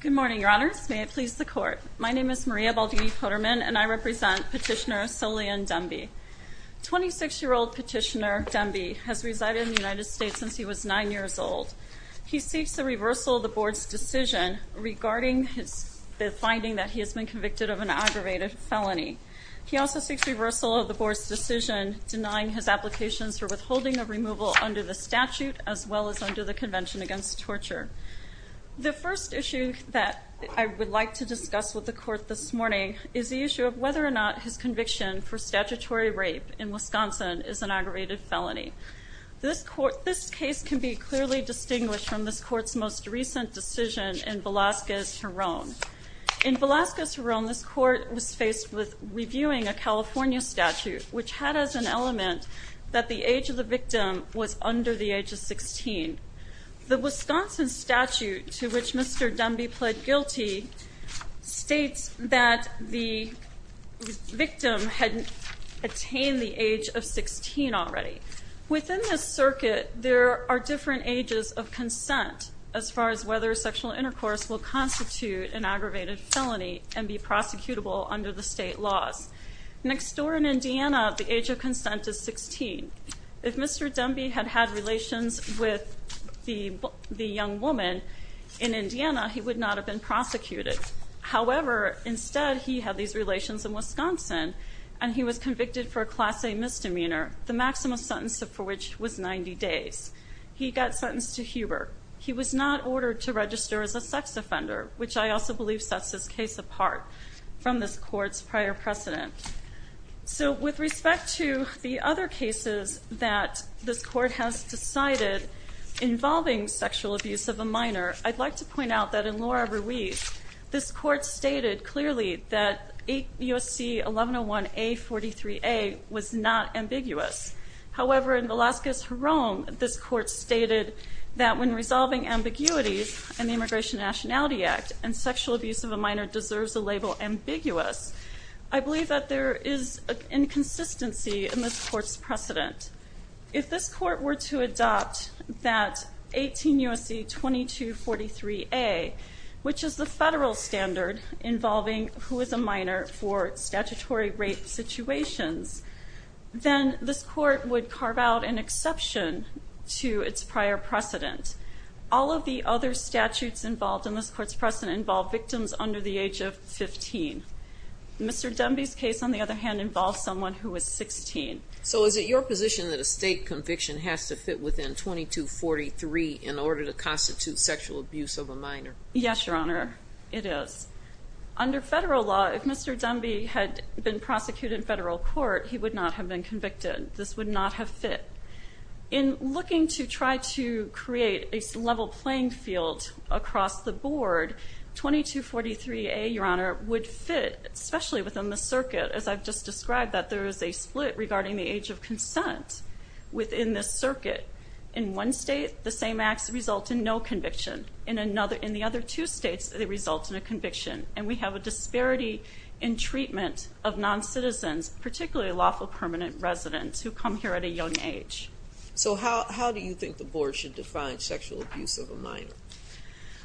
Good morning, Your Honors. May it please the Court. My name is Maria Baldivi-Potterman, and I represent Petitioner Solian Dhembi. 26-year-old Petitioner Dhembi has resided in the United States since he was 9 years old. He seeks the reversal of the Board's decision regarding the finding that he has been convicted of an aggravated felony. He also seeks reversal of the Board's decision denying his applications for withholding of removal under the statute as well as under the Convention Against Torture. The first issue that I would like to discuss with the Court this morning is the issue of whether or not his conviction for statutory rape in Wisconsin is an aggravated felony. This case can be clearly distinguished from this Court's most recent decision in Velazquez, Huron. In Velazquez, Huron, this Court was faced with reviewing a California statute which had as an element that the age of the victim was under the age of 16. The Wisconsin statute to which Mr. Dhembi pled guilty states that the victim had attained the age of 16 already. Within this circuit, there are different ages of consent as far as whether sexual intercourse will constitute an aggravated felony and be prosecutable under the state laws. Next door in Indiana, the age of consent is 16. If Mr. Dhembi had had relations with the young woman in Indiana, he would not have been prosecuted. However, instead, he had these relations in Wisconsin and he was convicted for a Class A misdemeanor, the maximum sentence for which was 90 days. He got sentenced to Hubert. He was not ordered to register as a sex offender, which I also believe sets this case apart from this Court's prior precedent. So with respect to the other cases that this Court has decided involving sexual abuse of a minor, I'd like to point out that in Laura Ruiz, this Court stated clearly that USC 1101A-43A was not ambiguous. However, in Velazquez, Huron, this Court stated that when resolving ambiguities in the Immigration and Nationality Act, and sexual abuse of a minor deserves the label ambiguous, I believe that there is an inconsistency in this Court's precedent. If this Court were to adopt that 18 USC 2243A, which is the federal standard involving who is a minor for statutory rape situations, then this Court would carve out an exception to its prior precedent. All of the other statutes involved in this Court's precedent involve victims under the age of 15. Mr. Dunby's case, on the other hand, involved someone who was 16. So is it your position that a state conviction has to fit within 2243 in order to constitute sexual abuse of a minor? Yes, Your Honor, it is. Under federal law, if Mr. Dunby had been prosecuted in federal court, he would not have been convicted. This would not have fit. In looking to try to create a level playing field across the board, 2243A, Your Honor, would fit, especially within the circuit. As I've just described, that there is a split regarding the age of consent within this circuit. In one state, the same acts result in no conviction. In the other two states, they result in a conviction. And we have a disparity in treatment of non-citizens, particularly lawful permanent residents who come here at a young age. So how do you think the Board should define sexual abuse of a minor?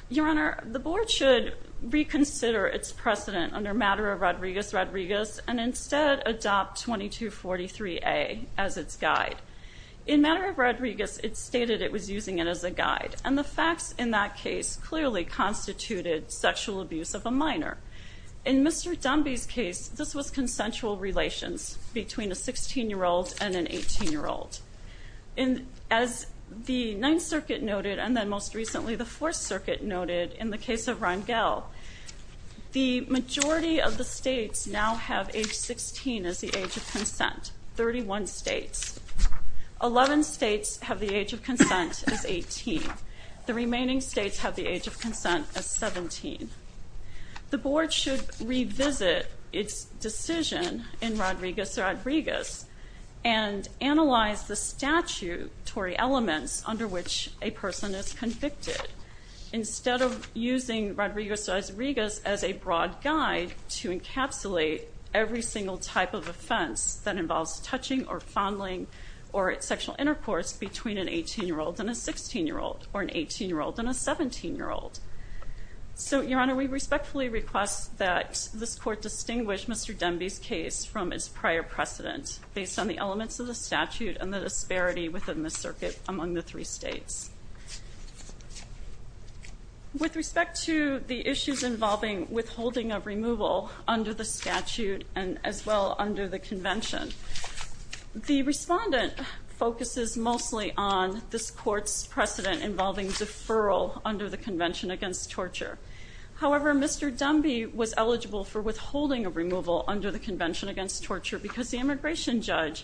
Your Honor, the Board should reconsider its precedent under matter of Rodriguez-Rodriguez and instead adopt 2243A as its guide. In matter of Rodriguez, it stated it was using it as a guide. And the facts in that case clearly constituted sexual abuse of a minor. In Mr. Dunby's case, this was consensual relations between a 16-year-old and an 18-year-old. As the Ninth Circuit noted, and then most recently the Fourth Circuit noted in the case of Rangel, the majority of the states now have age 16 as the age of consent, 31 states. Eleven states have the age of consent as 18. The remaining states have the age of consent as 17. The Board should revisit its decision in Rodriguez-Rodriguez and analyze the statutory elements under which a person is convicted. Instead of using Rodriguez-Rodriguez as a broad guide to encapsulate every single type of offense that involves touching or fondling or sexual intercourse between an 18-year-old and a 16-year-old or an 18-year-old and a 17-year-old. So, Your Honor, we respectfully request that this Court distinguish Mr. Dunby's case from its prior precedent based on the elements of the statute and the disparity within the circuit among the three states. With respect to the issues involving withholding of removal under the statute and as well under the convention, the respondent focuses mostly on this Court's precedent involving deferral under the convention against torture. However, Mr. Dunby was eligible for withholding of removal under the convention against torture because the immigration judge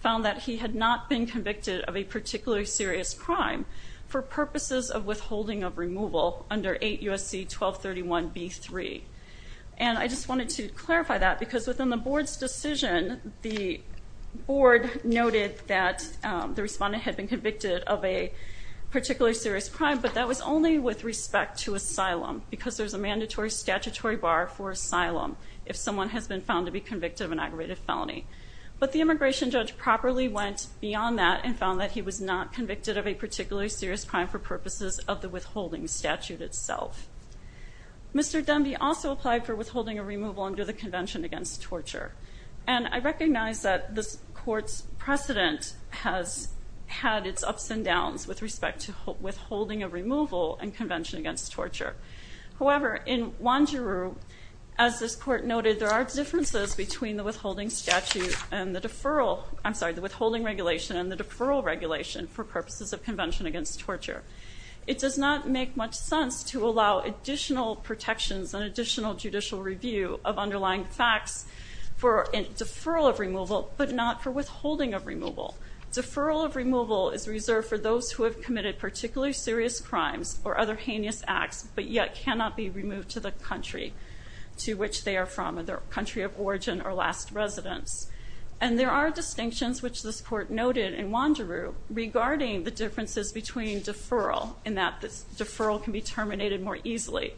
found that he had not been convicted of a particularly serious crime for purposes of withholding of removal under 8 U.S.C. 1231b-3. And I just wanted to clarify that because within the Board's decision, the Board noted that the respondent had been convicted of a particularly serious crime, but that was only with respect to asylum because there's a mandatory statutory bar for asylum if someone has been found to be convicted of an aggravated felony. But the immigration judge properly went beyond that and found that he was not convicted of a particularly serious crime for purposes of the withholding statute itself. Mr. Dunby also applied for withholding of removal under the convention against torture. And I recognize that this Court's precedent has had its ups and downs with respect to withholding of removal and convention against torture. However, in Wanjiru, as this Court noted, there are differences between the withholding statute and the deferral, I'm sorry, the withholding regulation and the deferral regulation for purposes of convention against torture. It does not make much sense to allow additional protections and additional judicial review of underlying facts for deferral of removal, but not for withholding of removal. Deferral of removal is reserved for those who have committed particularly serious crimes or other heinous acts, but yet cannot be removed to the country to which they are from or their country of origin or last residence. And there are distinctions, which this Court noted in Wanjiru, regarding the differences between deferral, in that the deferral can be terminated more easily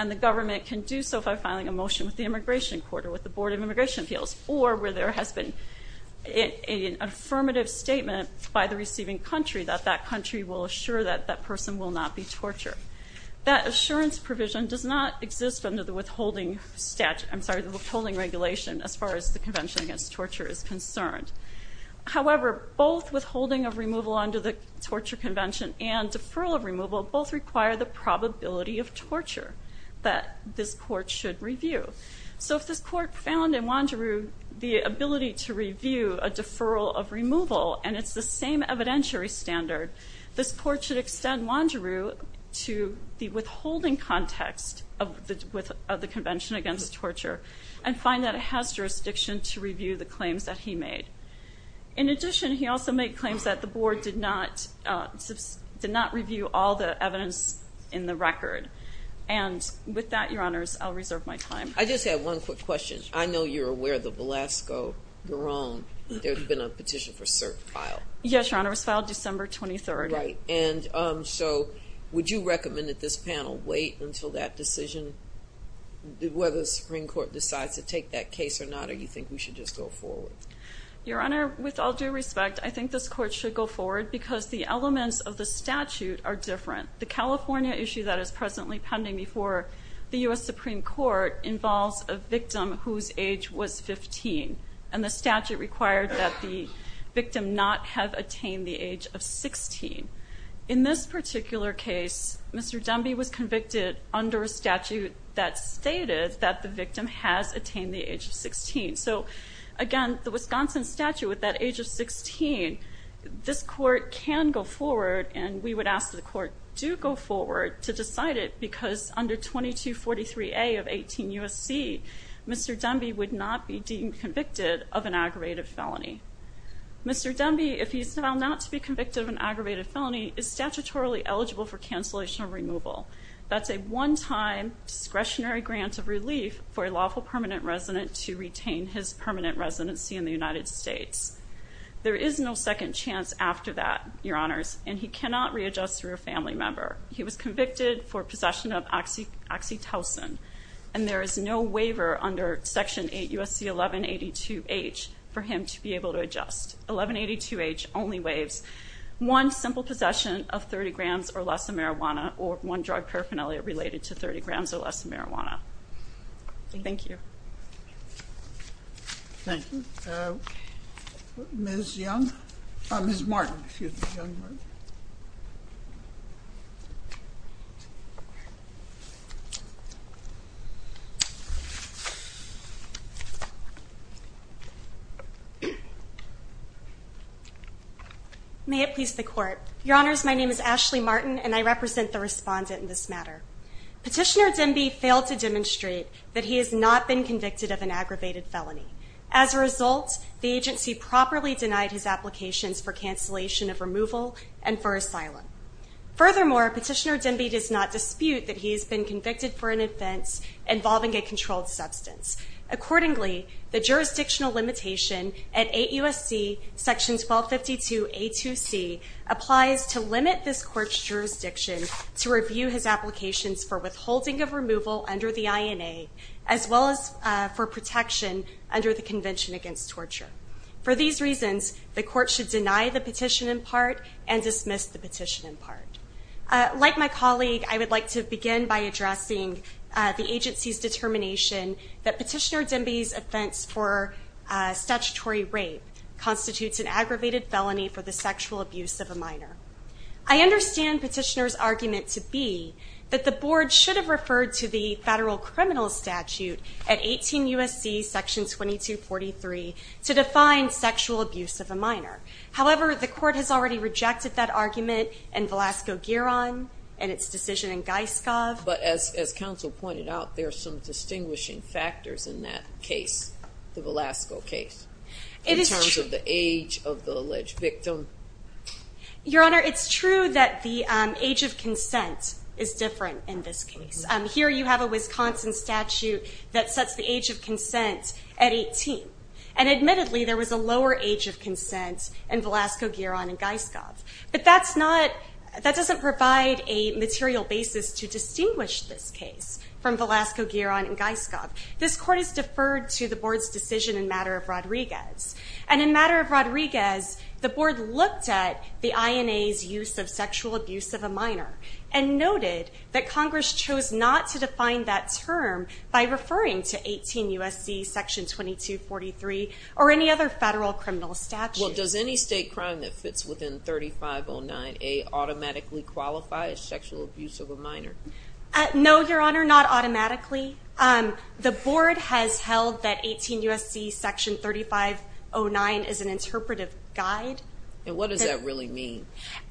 and the government can do so by filing a motion with the Immigration Court or with the Board of Immigration Appeals, or where there has been an affirmative statement by the receiving country that that country will assure that that person will not be tortured. That assurance provision does not exist under the withholding regulation as far as the convention against torture is concerned. However, both withholding of removal under the torture convention and deferral of removal both require the probability of torture that this Court should review. So if this Court found in Wanjiru the ability to review a deferral of removal and it's the same evidentiary standard, this Court should extend Wanjiru to the withholding context of the convention against torture and find that it has jurisdiction to review the claims that he made. In addition, he also made claims that the Board did not review all the evidence in the record. And with that, Your Honors, I'll reserve my time. I just have one quick question. I know you're aware of the Velasco, your own. There's been a petition for cert filed. Yes, Your Honors, filed December 23rd. Right. And so would you recommend that this panel wait until that decision, whether the Supreme Court decides to take that case or not, or do you think we should just go forward? Your Honor, with all due respect, I think this Court should go forward because the elements of the statute are different. The California issue that is presently pending before the U.S. Supreme Court involves a victim whose age was 15, and the statute required that the victim not have attained the age of 16. In this particular case, Mr. Dunby was convicted under a statute that stated that the victim has attained the age of 16. So, again, the Wisconsin statute with that age of 16, this Court can go forward, and we would ask that the Court do go forward to decide it because under 2243A of 18 U.S.C., Mr. Dunby would not be deemed convicted of an aggravated felony. Mr. Dunby, if he is found not to be convicted of an aggravated felony, is statutorily eligible for cancellation of removal. That's a one-time discretionary grant of relief for a lawful permanent resident to retain his permanent residency in the United States. There is no second chance after that, Your Honors, and he cannot readjust through a family member. He was convicted for possession of oxytocin, and there is no waiver under Section 8 U.S.C. 1182H for him to be able to adjust. 1182H only waives one simple possession of 30 grams or less of marijuana or one drug paraphernalia related to 30 grams or less of marijuana. Thank you. Thank you. Ms. Young? Ms. Martin, if you would. May it please the Court. Your Honors, my name is Ashley Martin, and I represent the respondent in this matter. Petitioner Dunby failed to demonstrate that he has not been convicted of an aggravated felony. As a result, the agency properly denied his applications for cancellation of removal and for asylum. Furthermore, Petitioner Dunby does not dispute that he has been convicted for an offense involving a controlled substance. Accordingly, the jurisdictional limitation at 8 U.S.C. 1252A2C applies to limit this Court's jurisdiction to review his applications for withholding of removal under the INA as well as for protection under the Convention Against Torture. For these reasons, the Court should deny the petition in part and dismiss the petition in part. Like my colleague, I would like to begin by addressing the agency's determination that Petitioner Dunby's offense for statutory rape constitutes an aggravated felony for the sexual abuse of a minor. I understand Petitioner's argument to be that the Board should have referred to the Federal Criminal Statute at 18 U.S.C. section 2243 to define sexual abuse of a minor. However, the Court has already rejected that argument in Velasco-Gueron and its decision in Geiskov. But as counsel pointed out, there are some distinguishing factors in that case, the Velasco case, in terms of the age of the alleged victim. Your Honor, it's true that the age of consent is different in this case. Here you have a Wisconsin statute that sets the age of consent at 18. And admittedly, there was a lower age of consent in Velasco-Gueron and Geiskov. But that doesn't provide a material basis to distinguish this case from Velasco-Gueron and Geiskov. This Court has deferred to the Board's decision in matter of Rodriguez. And in matter of Rodriguez, the Board looked at the INA's use of sexual abuse of a minor and noted that Congress chose not to define that term by referring to 18 U.S.C. section 2243 or any other Federal Criminal Statute. Well, does any state crime that fits within 3509A automatically qualify as sexual abuse of a minor? No, Your Honor, not automatically. The Board has held that 18 U.S.C. section 3509 is an interpretive guide. And what does that really mean?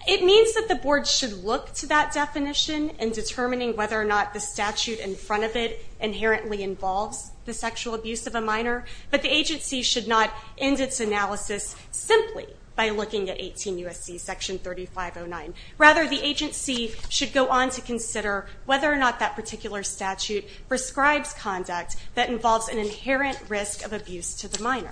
It means that the Board should look to that definition in determining whether or not the statute in front of it inherently involves the sexual abuse of a minor. But the agency should not end its analysis simply by looking at 18 U.S.C. section 3509. Rather, the agency should go on to consider whether or not that particular statute prescribes conduct that involves an inherent risk of abuse to the minor.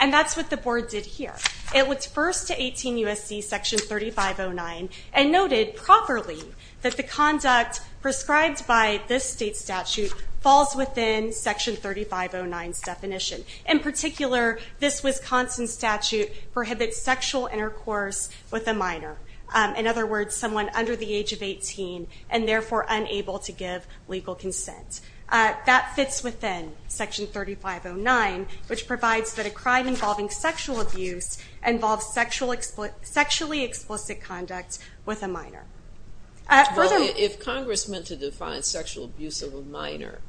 And that's what the Board did here. It looked first to 18 U.S.C. section 3509 and noted properly that the conduct prescribed by this state statute falls within section 3509's definition. In particular, this Wisconsin statute prohibits sexual intercourse with a minor. In other words, someone under the age of 18 and therefore unable to give legal consent. That fits within section 3509, which provides that a crime involving sexual abuse involves sexually explicit conduct with a minor. Well, if Congress meant to define sexual abuse of a minor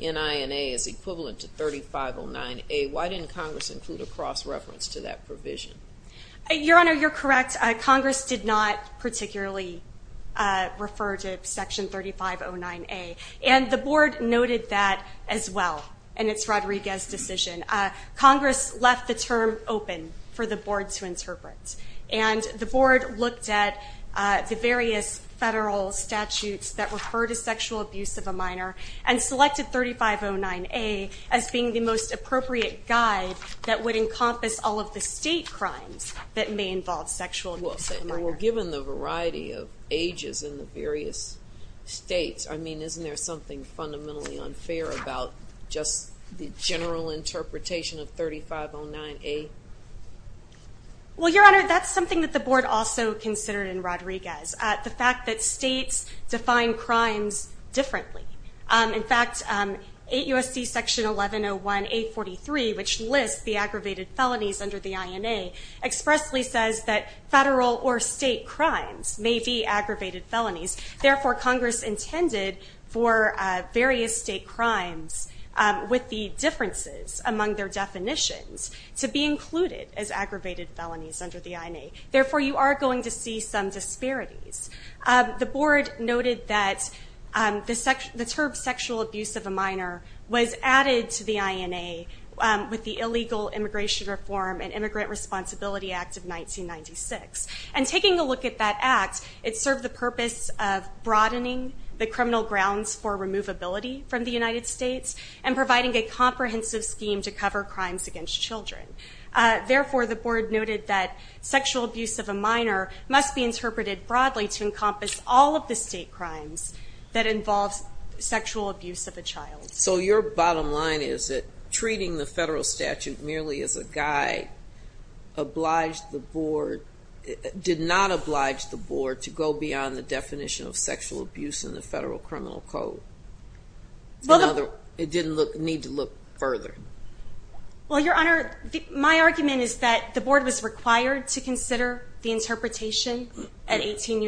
in INA as equivalent to 3509A, why didn't Congress include a cross-reference to that provision? Your Honor, you're correct. Congress did not particularly refer to section 3509A. And the Board noted that as well in its Rodriguez decision. Congress left the term open for the Board to interpret. And the Board looked at the various federal statutes that refer to sexual abuse of a minor and selected 3509A as being the most appropriate guide that would encompass all of the state crimes that may involve sexual abuse of a minor. Well, we're given the variety of ages in the various states. I mean, isn't there something fundamentally unfair about just the general interpretation of 3509A? Well, Your Honor, that's something that the Board also considered in Rodriguez. The fact that states define crimes differently. In fact, 8 U.S.C. section 1101A43, which lists the aggravated felonies under the INA, expressly says that federal or state crimes may be aggravated felonies. Therefore, Congress intended for various state crimes with the differences among their definitions to be included as aggravated felonies under the INA. Therefore, you are going to see some disparities. The Board noted that the term sexual abuse of a minor was added to the INA with the illegal immigration reform and Immigrant Responsibility Act of 1996. And taking a look at that act, it served the purpose of broadening the criminal grounds for removability from the United States and providing a comprehensive scheme to cover crimes against children. Therefore, the Board noted that sexual abuse of a minor must be interpreted broadly to encompass all of the state crimes that involve sexual abuse of a child. So your bottom line is that treating the federal statute merely as a guide did not oblige the Board to go beyond the definition of sexual abuse in the Federal Criminal Code. It didn't need to look further. Well, Your Honor, my argument is that the Board was required to consider the interpretation at 18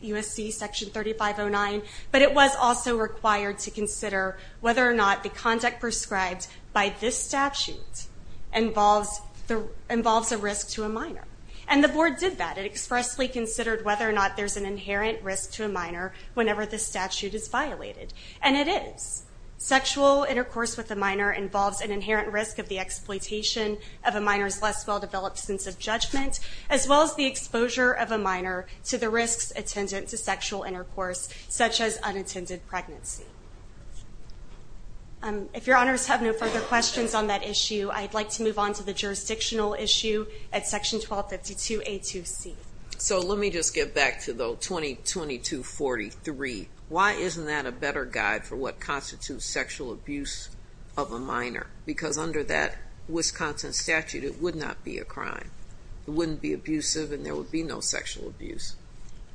U.S.C. section 3509, but it was also required to consider whether or not the conduct prescribed by this statute involves a risk to a minor. And the Board did that. It expressly considered whether or not there's an inherent risk to a minor whenever this statute is violated. And it is. Sexual intercourse with a minor involves an inherent risk of the exploitation of a minor's less well-developed sense of judgment, as well as the exposure of a minor to the risks attendant to sexual intercourse, such as unintended pregnancy. If Your Honors have no further questions on that issue, I'd like to move on to the jurisdictional issue at section 1252A2C. So let me just get back to the 2022-43. Why isn't that a better guide for what constitutes sexual abuse of a minor? Because under that Wisconsin statute, it would not be a crime. It wouldn't be abusive, and there would be no sexual abuse.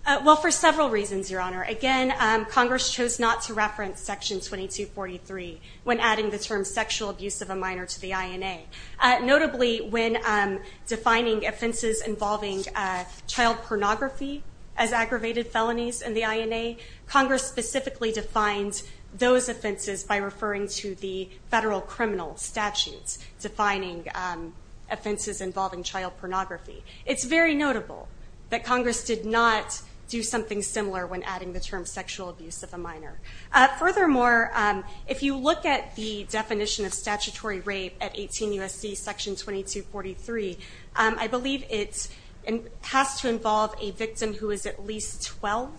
Well, for several reasons, Your Honor. Again, Congress chose not to reference section 2243 when adding the term sexual abuse of a minor to the INA. Notably, when defining offenses involving child pornography as aggravated felonies in the INA, Congress specifically defines those offenses by referring to the federal criminal statutes defining offenses involving child pornography. It's very notable that Congress did not do something similar when adding the term sexual abuse of a minor. Furthermore, if you look at the definition of statutory rape at 18 U.S.C. section 2243, I believe it has to involve a victim who is at least 12,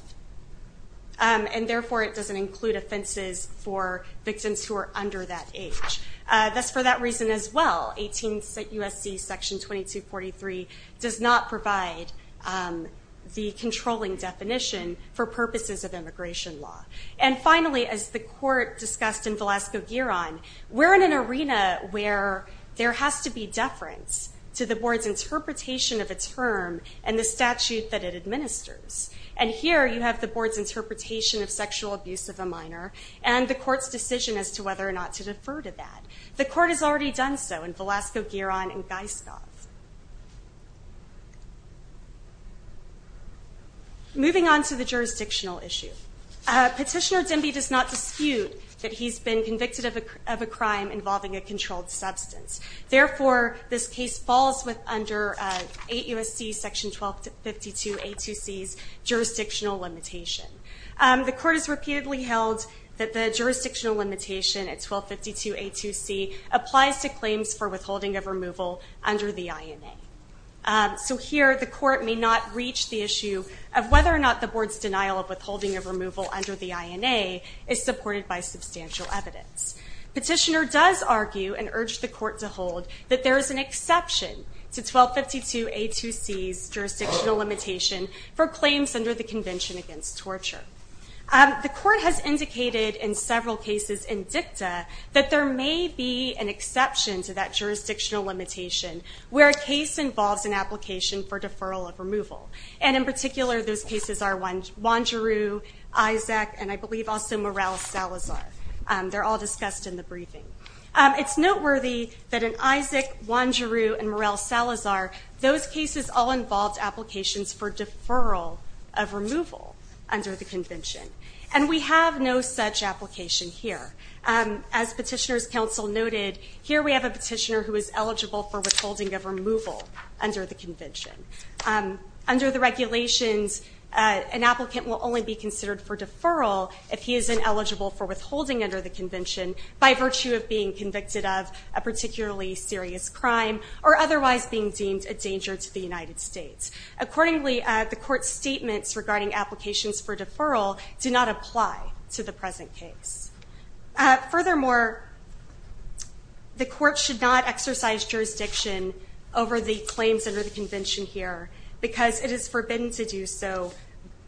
and therefore it doesn't include offenses for victims who are under that age. That's for that reason as well. 18 U.S.C. section 2243 does not provide the controlling definition for purposes of immigration law. And finally, as the court discussed in Velasco-Gueron, we're in an arena where there has to be deference to the board's interpretation of a term and the statute that it administers. And here you have the board's interpretation of sexual abuse of a minor and the court's decision as to whether or not to defer to that. The court has already done so in Velasco-Gueron and Geiskov. Moving on to the jurisdictional issue. Petitioner Demby does not dispute that he's been convicted of a crime involving a controlled substance. Therefore, this case falls under 8 U.S.C. section 1252A2C's jurisdictional limitation. The court has repeatedly held that the jurisdictional limitation at 1252A2C applies to claims for withholding of removal under the INA. So here the court may not reach the issue of whether or not the board's denial of withholding of removal under the INA is supported by substantial evidence. Petitioner does argue and urge the court to hold that there is an exception to 1252A2C's jurisdictional limitation for claims under the Convention Against Torture. The court has indicated in several cases in dicta that there may be an exception to that jurisdictional limitation where a case involves an application for deferral of removal. And in particular, those cases are Wanderoo, Isaac, and I believe also Morrell-Salazar. They're all discussed in the briefing. It's noteworthy that in Isaac, Wanderoo, and Morrell-Salazar, those cases all involved applications for deferral of removal under the convention. And we have no such application here. As Petitioner's counsel noted, here we have a petitioner who is eligible for withholding of removal under the convention. Under the regulations, an applicant will only be considered for deferral if he is ineligible for withholding under the convention by virtue of being convicted of a particularly serious crime or otherwise being deemed a danger to the United States. Accordingly, the court's statements regarding applications for deferral do not apply to the present case. Furthermore, the court should not exercise jurisdiction over the claims under the convention here because it is forbidden to do so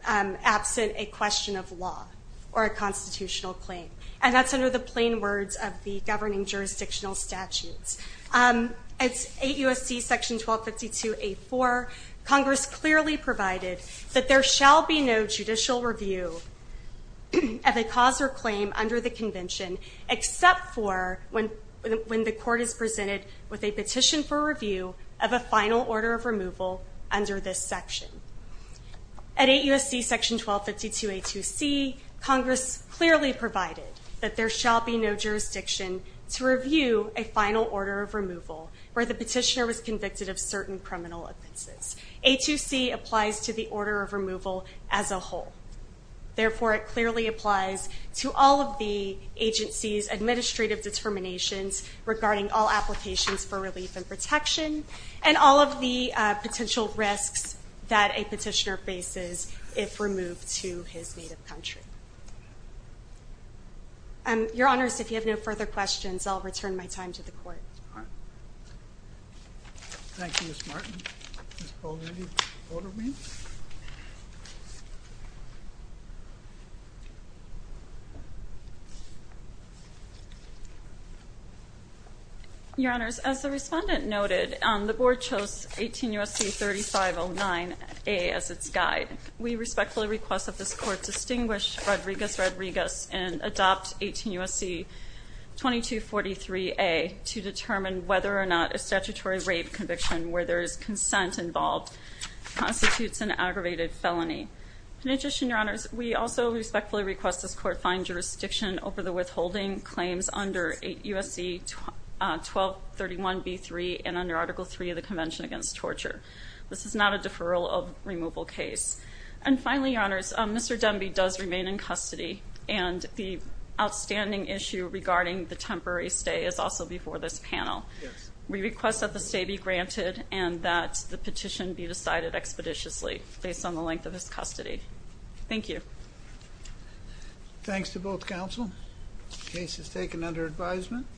absent a question of law or a constitutional claim. And that's under the plain words of the governing jurisdictional statutes. At 8 U.S.C. § 1252a4, Congress clearly provided that there shall be no judicial review of a cause or claim under the convention except for when the court is presented with a petition for review of a final order of removal under this section. At 8 U.S.C. § 1252a2c, Congress clearly provided that there shall be no jurisdiction to review a final order of removal where the petitioner was convicted of certain criminal offenses. A2c applies to the order of removal as a whole. Therefore, it clearly applies to all of the agency's administrative determinations regarding all applications for relief and protection and all of the potential risks that a petitioner faces if removed to his native country. Your Honors, if you have no further questions, I'll return my time to the court. All right. Thank you, Ms. Martin. Ms. Paul, will you order me? Your Honors, as the respondent noted, the board chose 18 U.S.C. § 3509a as its guide. We respectfully request that this court distinguish Rodriguez-Rodriguez and adopt 18 U.S.C. § 2243a to determine whether or not a statutory rape conviction where there is consent involved constitutes an aggravated felony. Petition, Your Honors, we also respectfully request this court find jurisdiction over the withholding claims under 8 U.S.C. § 1231b3 and under Article III of the Convention Against Torture. This is not a deferral of removal case. And finally, Your Honors, Mr. Dunby does remain in custody, and the outstanding issue regarding the temporary stay is also before this panel. We request that the stay be granted and that the petition be decided expeditiously based on the length of his custody. Thank you. Thanks to both counsel. Case is taken under advisement.